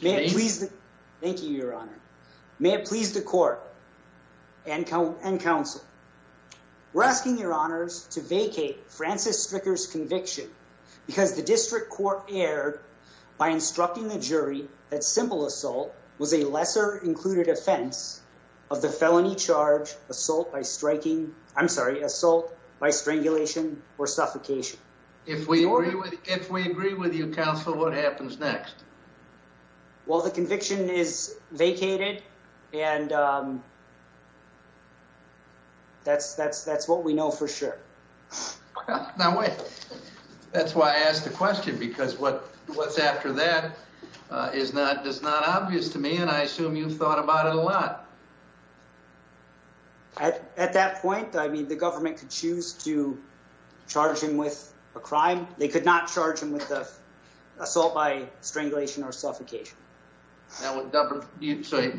May it please the court and counsel, we're asking your honors to vacate Francis Stricker's conviction because the district court erred by instructing the jury that simple assault was a lesser included offense of the felony charge assault by striking, I'm sorry, assault by strangulation or suffocation. If we agree with you counsel, what happens next? Well, the conviction is vacated and that's what we know for sure. That's why I asked the question because what's after that is not obvious to me and I assume you've thought about it a lot. At that point, I mean, the government could choose to charge him with a crime. They could not charge him with the assault by strangulation or suffocation. So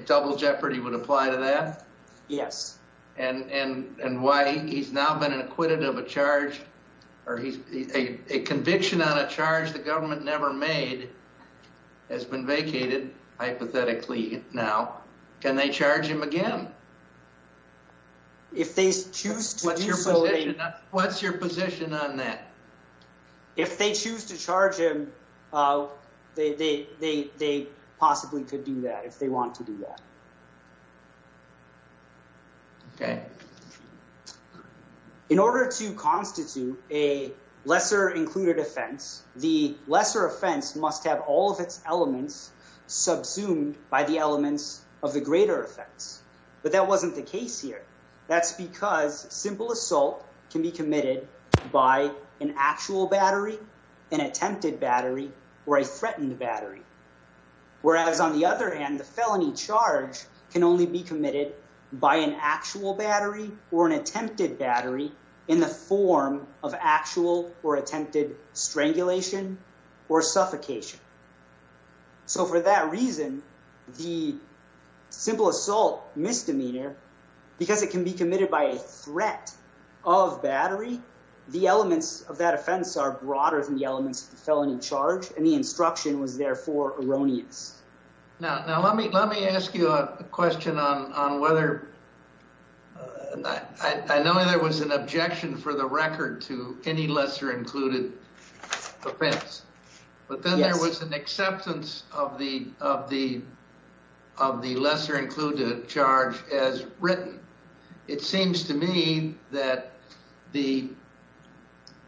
double jeopardy would apply to that? Yes. And why he's now been acquitted of a charge or he's a conviction on a charge the government never made has been vacated hypothetically now, can they charge him again? If they choose to do so. What's your position on that? If they choose to charge him, they possibly could do that if they want to do that. Okay. In order to constitute a lesser included offense, the lesser offense must have all of its elements subsumed by the elements of the greater offense. But that wasn't the case here. That's because simple assault can be committed by an actual battery, an attempted battery, or a threatened battery. Whereas on the other hand, the felony charge can only be committed by an actual battery or an attempted battery in the form of actual or suffocation. So for that reason, the simple assault misdemeanor, because it can be committed by a threat of battery, the elements of that offense are broader than the elements of the felony charge. And the instruction was therefore erroneous. Now, let me ask you a question on whether, I know there was an objection for the record to any lesser included offense, but then there was an acceptance of the lesser included charge as written. It seems to me that the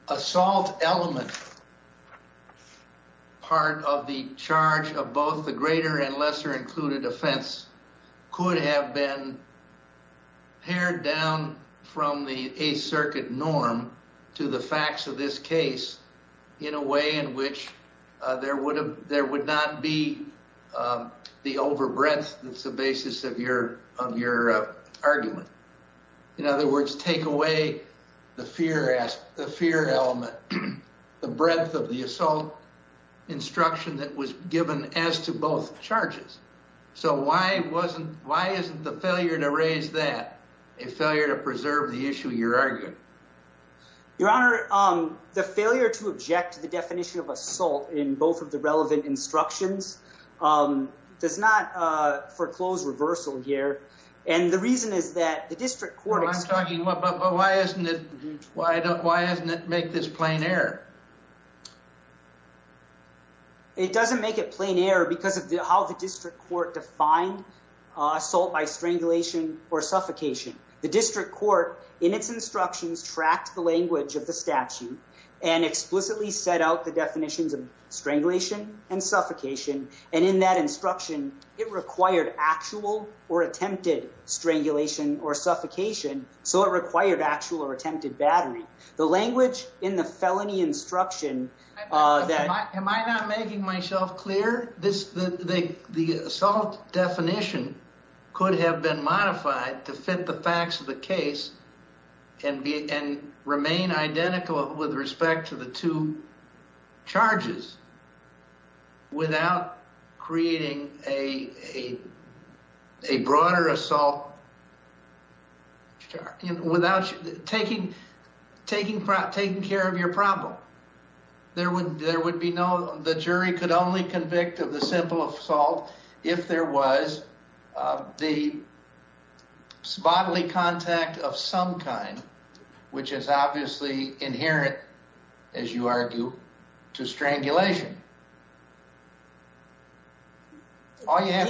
assault element part of the charge of both the greater and lesser included offense could have been pared down from the Eighth Circuit norm to the facts of this case in a way in which there would not be the over breadth that's the basis of your argument. In other words, take away the fear element, the breadth of the assault instruction that was given as to both charges. So why isn't the failure to raise that a failure to preserve the issue you're arguing? Your Honor, the failure to object to the definition of assault in both of the relevant instructions does not foreclose reversal here. And the reason is that the district court- No, I'm talking, but why doesn't it make this plain error? It doesn't make it plain error because of how the district court defined assault by strangulation or suffocation. The district court in its instructions tracked the language of the statute and explicitly set out the definitions of strangulation and suffocation. And in that instruction, it required actual or attempted strangulation or suffocation. So it required actual or attempted battery. The language in the felony instruction- Am I not making myself clear? The assault definition could have been modified to fit the facts of the case and remain identical with respect to the two charges without creating a broader assault without taking care of your problem. The jury could only convict of the simple assault if there was the bodily contact of some kind, which is obviously inherent, as you argue, to strangulation. All you have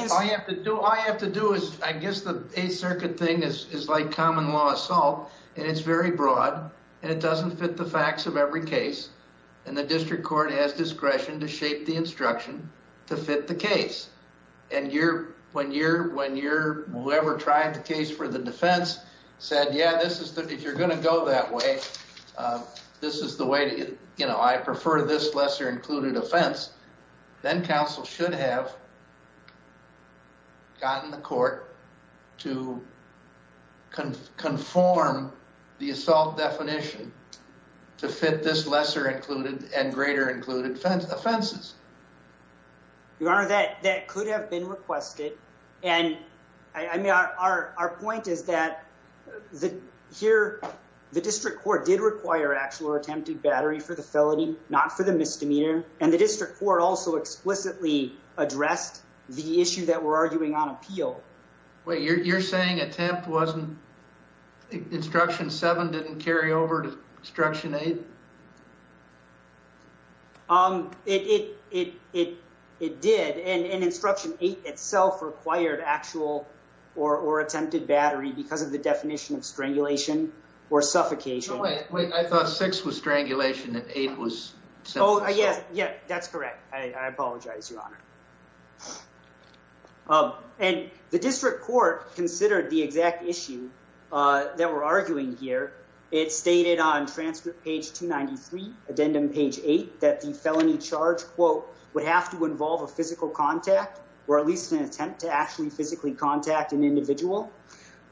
to do is, I guess the Eighth Circuit thing is like common law assault, and it's very broad, and it doesn't fit the facts of every case, and the district court has discretion to shape the instruction to fit the case. And when you're, when you're, whoever tried the case for the defense said, yeah, this is, if you're going to that way, this is the way to, you know, I prefer this lesser included offense, then counsel should have gotten the court to conform the assault definition to fit this lesser included and greater included offenses. Your Honor, that could have been The district court did require actual or attempted battery for the felony, not for the misdemeanor, and the district court also explicitly addressed the issue that we're arguing on appeal. Wait, you're saying attempt wasn't, instruction seven didn't carry over to instruction eight? It did, and instruction eight itself required actual or attempted battery because of the definition of strangulation or suffocation. Wait, I thought six was strangulation and eight was sentence. Oh, yeah, yeah, that's correct. I apologize, Your Honor. And the district court considered the exact issue that we're arguing here. It stated on transcript page 293, addendum page eight, that the felony charge, quote, would have to involve a physical contact or at least an attempt to actually physically contact an individual.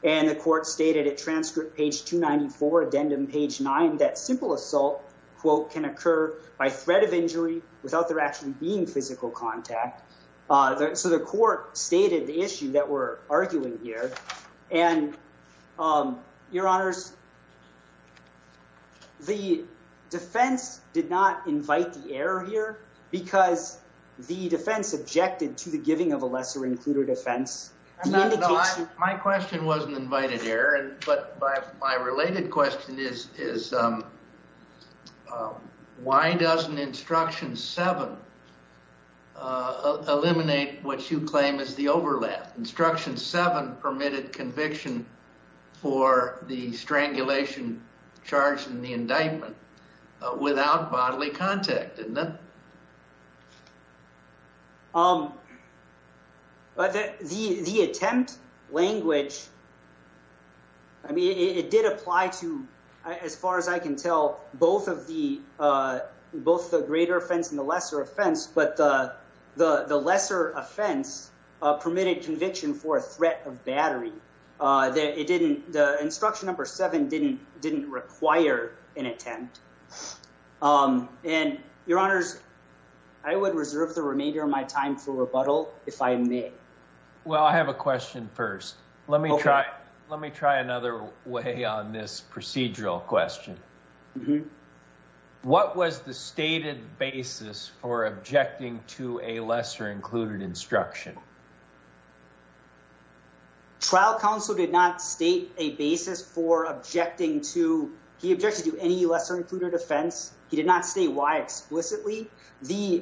And the court stated at transcript page 294, addendum page nine, that simple assault, quote, can occur by threat of injury without there actually being physical contact. So the court stated the issue that we're arguing here, and Your Honors, the defense did not invite the error here because the defense objected to the giving of a lesser included offense. My question wasn't invited error, but my related question is, why doesn't instruction seven eliminate what you claim is the overlap? Instruction seven permitted conviction for the strangulation charge in the indictment without bodily contact, didn't it? The attempt language, I mean, it did apply to, as far as I can tell, both of the greater offense and the lesser offense, but the lesser offense permitted conviction for a threat of battery. It didn't, the instruction number seven didn't require an attempt. And Your Honors, I would reserve the remainder of my time for rebuttal if I may. Well, I have a question first. Let me try another way on this procedural question. What was the stated basis for objecting to a lesser included instruction? Trial counsel did not state a basis for objecting to, he objected to any lesser included offense. He did not say why explicitly. The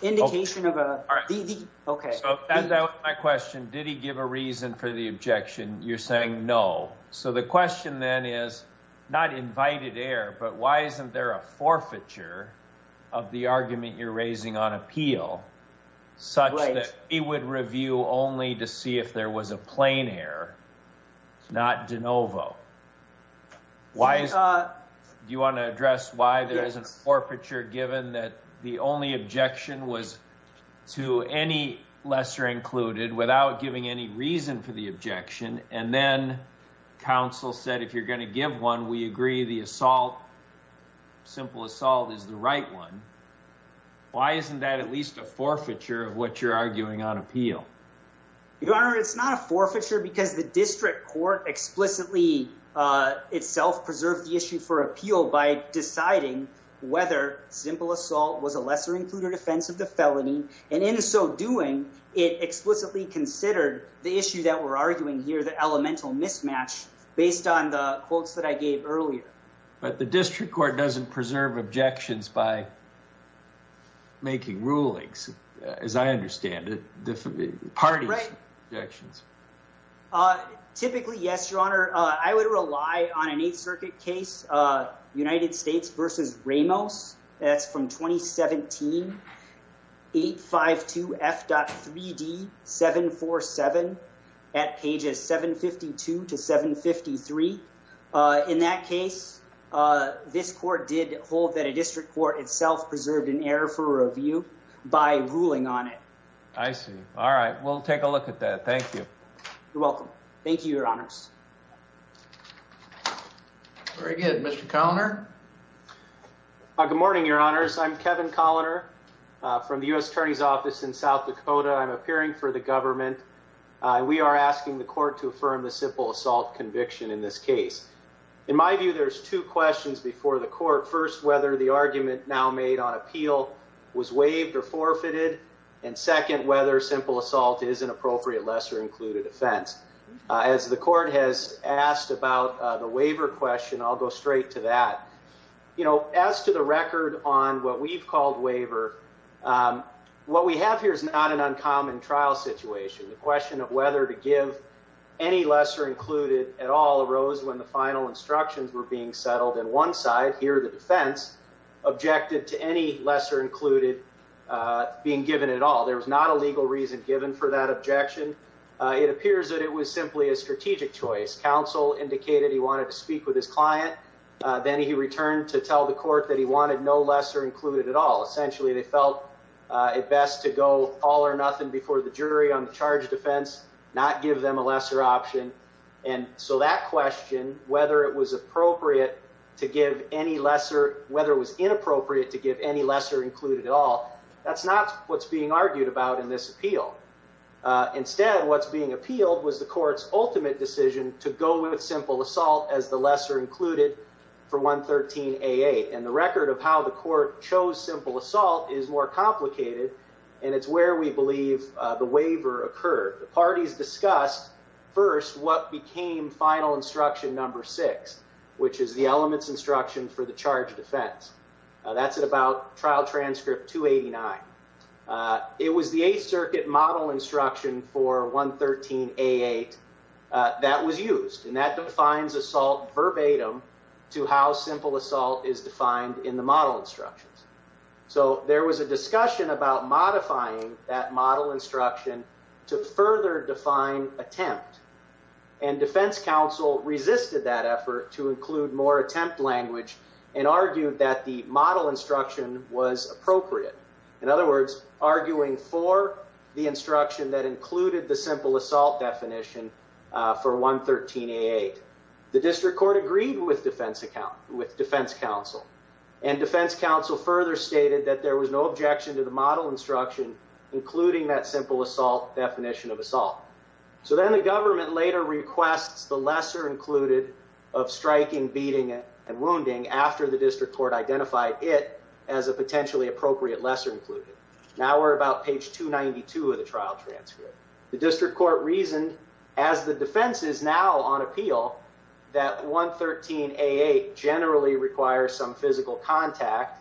indication of a, the, okay. So that was my question. Did he give a reason for the objection? You're saying no. So the question then is not invited error, but why isn't there a forfeiture of the argument you're raising on appeal such that he would review only to see if there was a plain error, not de novo. Do you want to address why there is an forfeiture given that the only objection was to any lesser included without giving any reason for the objection? And then counsel said, if you're going to give one, we agree the assault, simple assault is the right one. Why isn't that at least a forfeiture of what you're arguing on appeal? Your Honor, it's not a forfeiture because the district court explicitly itself preserved the issue for appeal by deciding whether simple assault was a lesser included offense of the felony. And in so doing it explicitly considered the issue that we're arguing here, the elemental mismatch based on the quotes that I gave earlier. But the district court doesn't preserve objections by making rulings, as I understand it, parties objections. Typically, yes, Your Honor. I would rely on an Eighth Circuit case, United States versus Ramos. That's from 2017, 852 F.3D 747 at pages 752 to 753. In that case, this court did hold that a district court itself preserved an error for review by ruling on it. I see. All right. We'll take a look at that. Thank you. You're welcome. Thank you, Your Honors. Very good. Mr. Colliner. Good morning, Your Honors. I'm Kevin Colliner from the U.S. Attorney's Office in South Dakota. I'm appearing for the government. We are asking the court to affirm the simple assault conviction in this case. In my view, there's two questions before the court. First, whether the argument now made on appeal was waived or forfeited. And second, whether simple assault is an appropriate lesser included offense. As the court has asked about the waiver question, I'll go straight to that. You know, as to the record on what we've called waiver, what we have here is not an uncommon trial situation. The question of whether to give any lesser included at all arose when the final instructions were being settled. And one side here, the defense, objected to any lesser included being given at all. There was not a legal reason given for that objection. It appears that was simply a strategic choice. Counsel indicated he wanted to speak with his client. Then he returned to tell the court that he wanted no lesser included at all. Essentially, they felt it best to go all or nothing before the jury on the charge of defense, not give them a lesser option. And so that question, whether it was appropriate to give any lesser, whether it was inappropriate to give any lesser included at all, that's not what's being argued about in this court's ultimate decision to go with simple assault as the lesser included for 113AA. And the record of how the court chose simple assault is more complicated, and it's where we believe the waiver occurred. The parties discussed first what became final instruction number six, which is the elements instruction for the charge of defense. That's at about trial transcript 289. It was the Eighth Circuit model instruction for 113AA that was used, and that defines assault verbatim to how simple assault is defined in the model instructions. So there was a discussion about modifying that model instruction to further define attempt. And defense counsel resisted that effort to include more attempt language and argued that the model instruction was appropriate. In other words, arguing for the instruction that included the simple assault definition for 113AA. The district court agreed with defense counsel, and defense counsel further stated that there was no objection to the model instruction including that simple assault definition of assault. So then the government later requests the lesser included of striking, beating, and Now we're about page 292 of the trial transcript. The district court reasoned, as the defense is now on appeal, that 113AA generally requires some physical contact.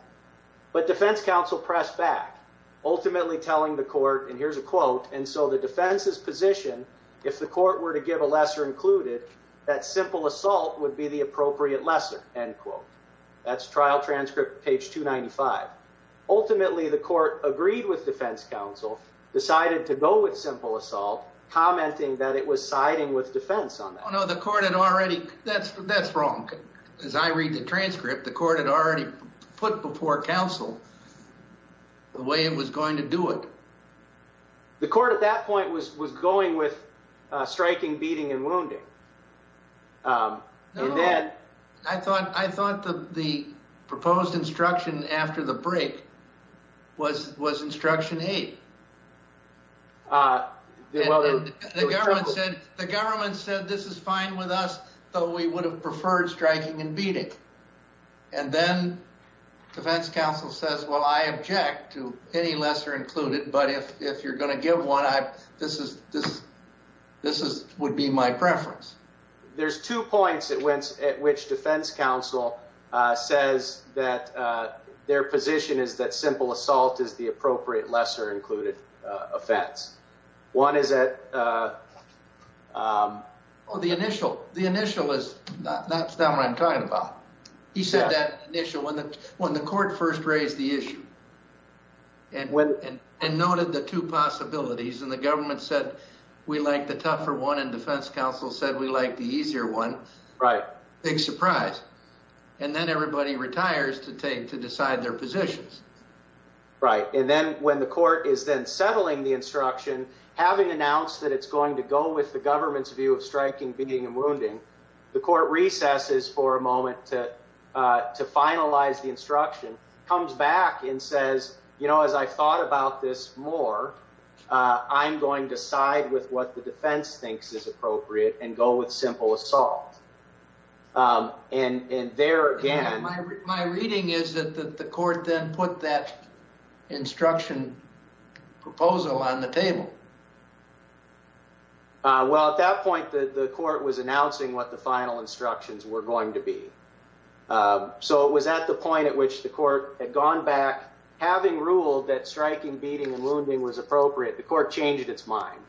But defense counsel pressed back, ultimately telling the court, and here's a quote, and so the defense's position, if the court were to give a lesser included, that simple assault would be the appropriate lesser, end quote. That's trial transcript page 295. Ultimately, the court agreed with defense counsel, decided to go with simple assault, commenting that it was siding with defense on that. Oh no, the court had already, that's wrong. As I read the transcript, the court had already put before counsel the way it was going to do it. The court at that point was going with striking, beating, and wounding. No, I thought the proposed instruction after the break was instruction eight. The government said this is fine with us, though we would have preferred striking and beating. And then defense counsel says, well, I object to any lesser included, but if you're going to point to two points at which defense counsel says that their position is that simple assault is the appropriate lesser included offense. One is that... Oh, the initial. The initial is, that's not what I'm talking about. He said that initial, when the court first raised the issue, and noted the two possibilities, and the government said we like the tougher one, defense counsel said we like the easier one, big surprise. And then everybody retires to take, to decide their positions. Right. And then when the court is then settling the instruction, having announced that it's going to go with the government's view of striking, beating, and wounding, the court recesses for a moment to finalize the instruction, comes back and says, you know, as I thought about this more, I'm going to side with what the defense thinks is appropriate and go with simple assault. And there again... My reading is that the court then put that instruction proposal on the table. Well, at that point, the court was announcing what the final instructions were going to be. So it was at the point at which the court had gone back, having ruled that striking, beating, and wounding was appropriate, the court changed its mind.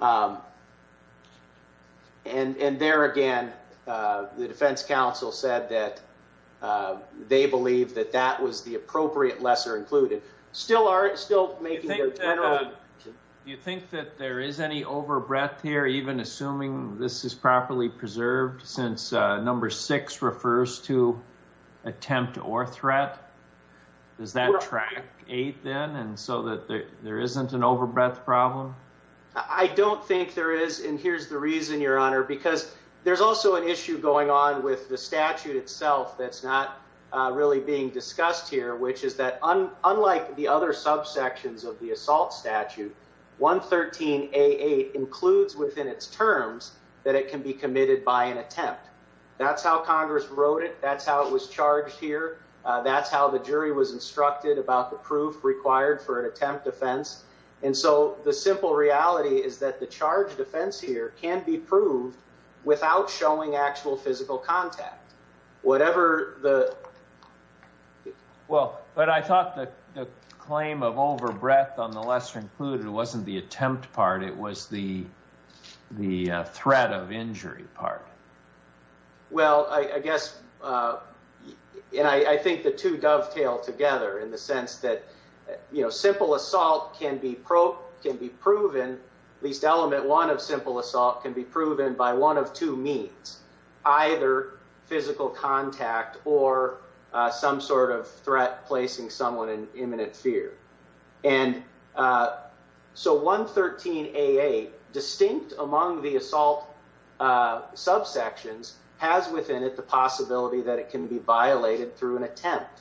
And there again, the defense counsel said that they believe that that was the appropriate lesser included. Still making the general... Do you think that there is any overbreadth here, even assuming this is properly preserved since number six refers to attempt or threat? Does that track eight then? And so that there isn't an overbreadth problem? I don't think there is. And here's the reason, your honor, because there's also an issue going on with the statute itself that's not really being discussed here, which is that unlike the other subsections of the assault statute, 113A8 includes within its terms that it can be committed by an attempt. That's how Congress wrote it. That's how it was charged here. That's how the jury was instructed about the proof required for an attempt defense. And so the simple reality is that the charge defense here can be proved without showing actual physical contact. Whatever the... Well, but I thought the claim of overbreadth on the lesser included wasn't the attempt part. It was the threat of injury part. Well, I guess, and I think the two dovetail together in the sense that, you know, simple assault can be proven, at least element one of simple assault can be proven by one of two means, either physical contact or some sort of threat placing someone in imminent fear. And so 113A8, distinct among the assault subsections, has within it the possibility that it can be violated through an attempt.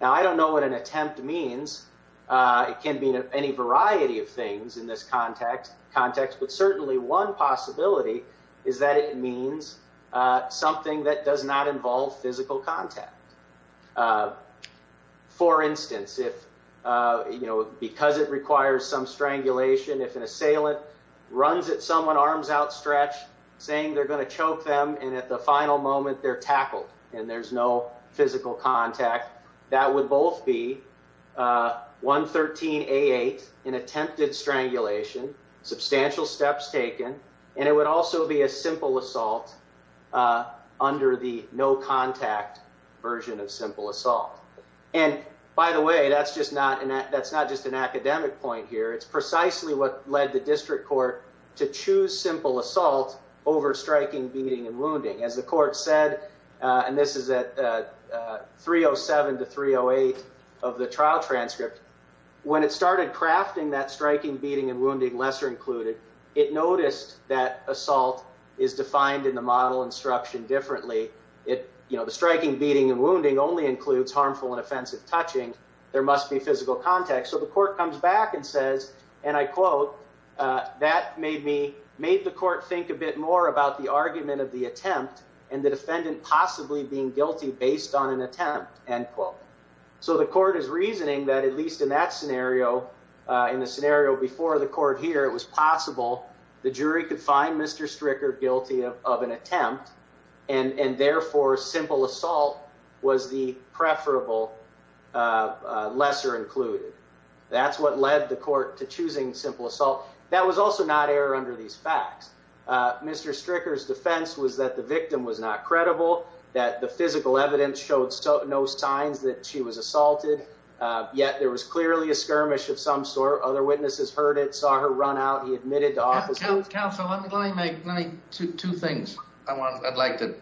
Now, I don't know what an attempt means. It can be any variety of things in this context, but certainly one possibility is that it means something that does not involve physical contact. For instance, if, you know, because it requires some strangulation, if an assailant runs at someone arms outstretched, saying they're going to choke them, and at the final moment they're tackled and there's no physical contact, that would both be 113A8, an attempted strangulation, substantial steps taken, and it would also be a simple assault under the no contact version of simple assault. And by the way, that's just not an academic point here. It's precisely what led the district court to choose simple assault over striking, beating, and wounding. As the court said, and this is at 307 to 308 of the trial transcript, when it started crafting that striking, beating, and wounding, lesser included, it noticed that assault is defined in the model instruction differently. It, you know, the striking, beating, and wounding only includes harmful and offensive touching. There must be physical contact. So the court comes back and says, and I quote, that made me, made the court think a bit more about the argument of the attempt and the defendant possibly being guilty based on an attempt, end quote. So the court is reasoning that at least in that scenario, in the scenario before the court here, it was possible the jury could find Mr. Stricker guilty of an attempt and therefore simple assault was the preferable lesser included. That's what led the court to choosing simple assault. That was also not error under these facts. Mr. Stricker's defense was that the victim was not credible, that the physical evidence showed no signs that she was assaulted. Yet there was clearly a skirmish of some sort. Other witnesses heard it, saw her run out. He admitted to offense. Counsel, let me make two things I'd like to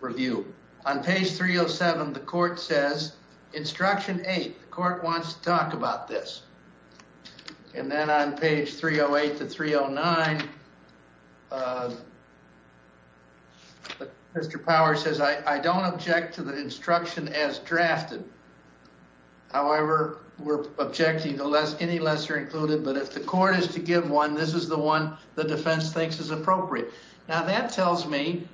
review. On page 307, the court says, instruction eight, the court wants to talk about this. And then on page 308 to 309, Mr. Power says, I don't object to the instruction as drafted. However, we're objecting to any lesser included, but if the court is to give one, this is the one the defense thinks is appropriate. Now that tells me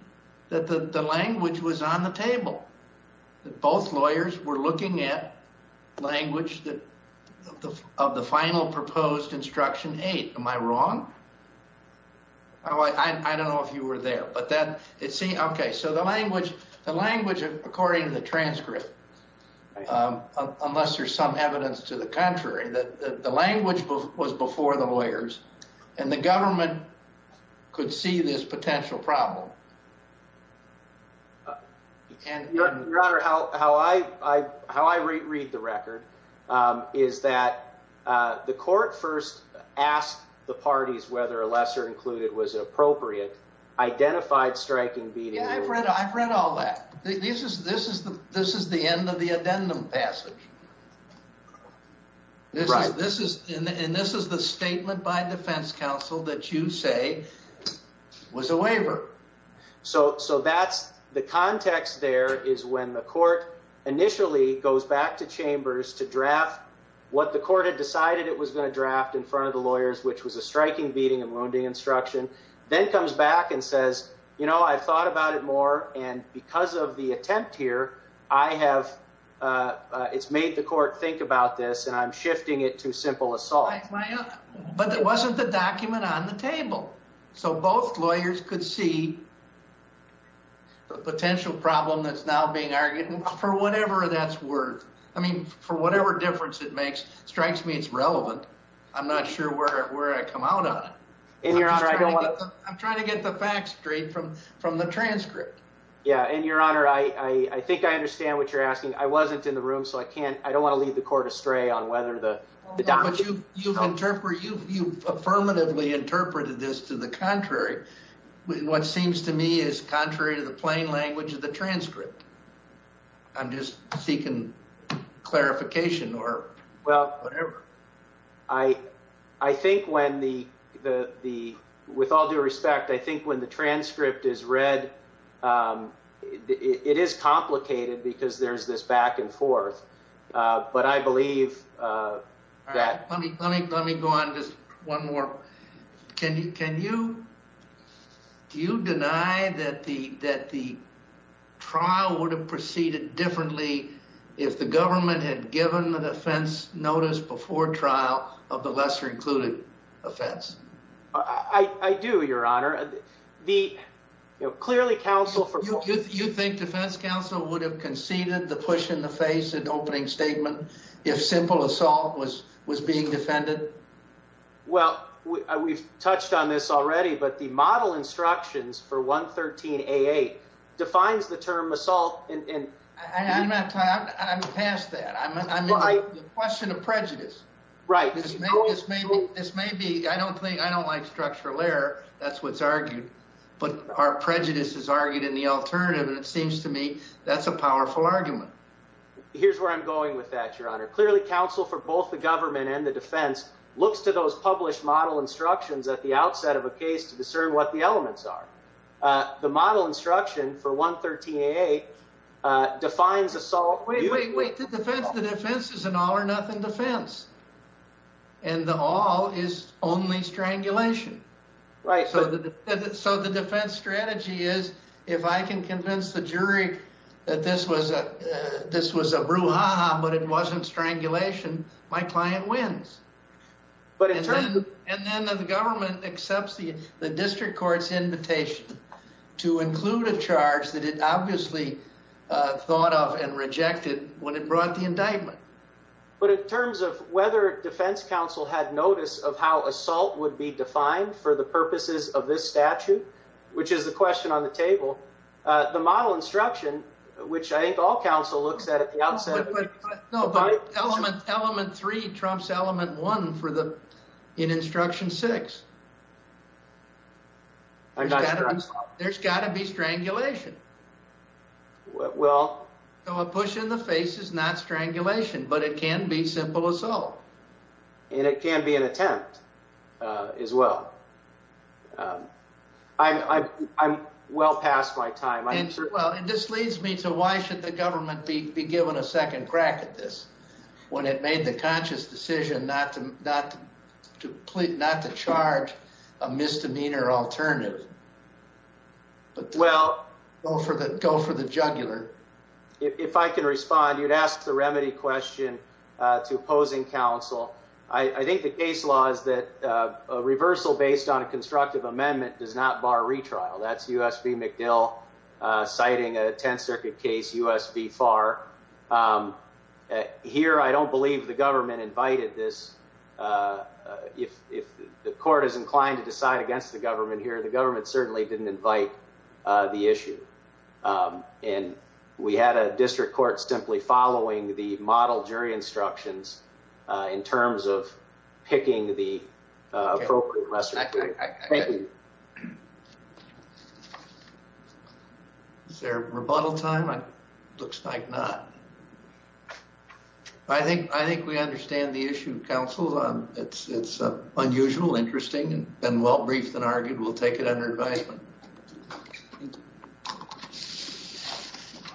that the language was on the table, that both lawyers were looking at the language of the final proposed instruction eight. Am I wrong? I don't know if you were there, but that it seemed, okay. So the language, the language of, according to the transcript, unless there's some evidence to the contrary, that the language was before the lawyers and the government could see this potential problem. Your Honor, how I read the record is that the court first asked the parties whether a lesser included was appropriate, identified striking beating. Yeah, I've read all that. This is the end of the addendum passage. Right. And this is the statement by defense counsel that you say was a waiver. So, so that's the context there is when the court initially goes back to chambers to draft what the court had decided it was going to draft in front of the lawyers, which was a striking beating and wounding instruction, then comes back and says, you know, I've thought about it more. And because of the attempt here, I have, uh, uh, it's made the court think about this and I'm shifting it to simple assault, but it wasn't the document on the table. So both lawyers could see the potential problem that's now being argued for whatever that's worth. I mean, for whatever difference it makes strikes me, it's relevant. I'm not sure where, where I come out on it. I'm trying to get the facts straight from, from the transcript. Yeah. And Your Honor, I, I think I understand what you're asking. I wasn't in the room, so I can't, I don't want to leave the court astray on whether the document you interpret, you affirmatively interpreted this to the contrary. What seems to me is contrary to the plain language of the transcript. I'm just seeking clarification or whatever. Well, I, I think when the, the, the, with all due respect, I think when the transcript is read, um, it is complicated because there's this back and forth. Uh, but I believe, uh, that. Let me, let me, let me go on just one more. Can you, can you, do you deny that the, that the trial would have proceeded differently if the government had given the defense notice before trial of the lesser included offense? I do, Your Honor. The, you know, would have conceded the push in the face and opening statement. If simple assault was, was being defended. Well, we've touched on this already, but the model instructions for 113 AA defines the term assault. And I'm past that question of prejudice, right? This may be, this may be, I don't think I don't like structural error. That's what's argued, but our prejudice is argued in the alternative. And it seems to me that's a powerful argument. Here's where I'm going with that. Your Honor, clearly counsel for both the government and the defense looks to those published model instructions at the outset of a case to discern what the elements are. Uh, the model instruction for 113 AA, uh, defines assault. Wait, wait, wait, the defense, the defense is an all or nothing defense. And the all is only strangulation. Right. So the, so the defense strategy is if I can convince the jury that this was a, this was a brouhaha, but it wasn't strangulation, my client wins. And then the government accepts the district court's invitation to include a charge that it obviously thought of and rejected when it brought the indictment. But in terms of whether defense counsel had notice of how assault would be defined for the purposes of this statute, which is the question on the table, uh, the model instruction, which I think all counsel looks at, at the outset. No, but element three trumps element one for the, in instruction six. I'm not sure. There's gotta be strangulation. Well, no, a push in the face is not strangulation, but it can be simple assault. And it can be an attempt, uh, as well. Um, I'm, I'm, I'm well past my time. Well, and this leads me to why should the government be given a second crack at this when it made the conscious decision not to, not to plead, not to charge a misdemeanor alternative. Well, go for the, go for the jugular. If I can respond, you'd ask the remedy question to opposing counsel. I think the case law is that, uh, a reversal based on a constructive amendment does not bar retrial. That's USB McDill, uh, citing a 10th circuit case, USB far, um, here. I don't believe the government invited this. Uh, uh, if, if the court is inclined to decide against the government here, the government certainly didn't invite, uh, the issue. Um, and we had a district court simply following the model jury instructions, uh, in terms of picking the, uh, appropriate rest of the case. Thank you. Is there rebuttal time? It looks like not. I think, I think we understand the issue, counsel. Um, it's, it's unusual, interesting, and well briefed and argued. We'll take it under advisement. Thank you.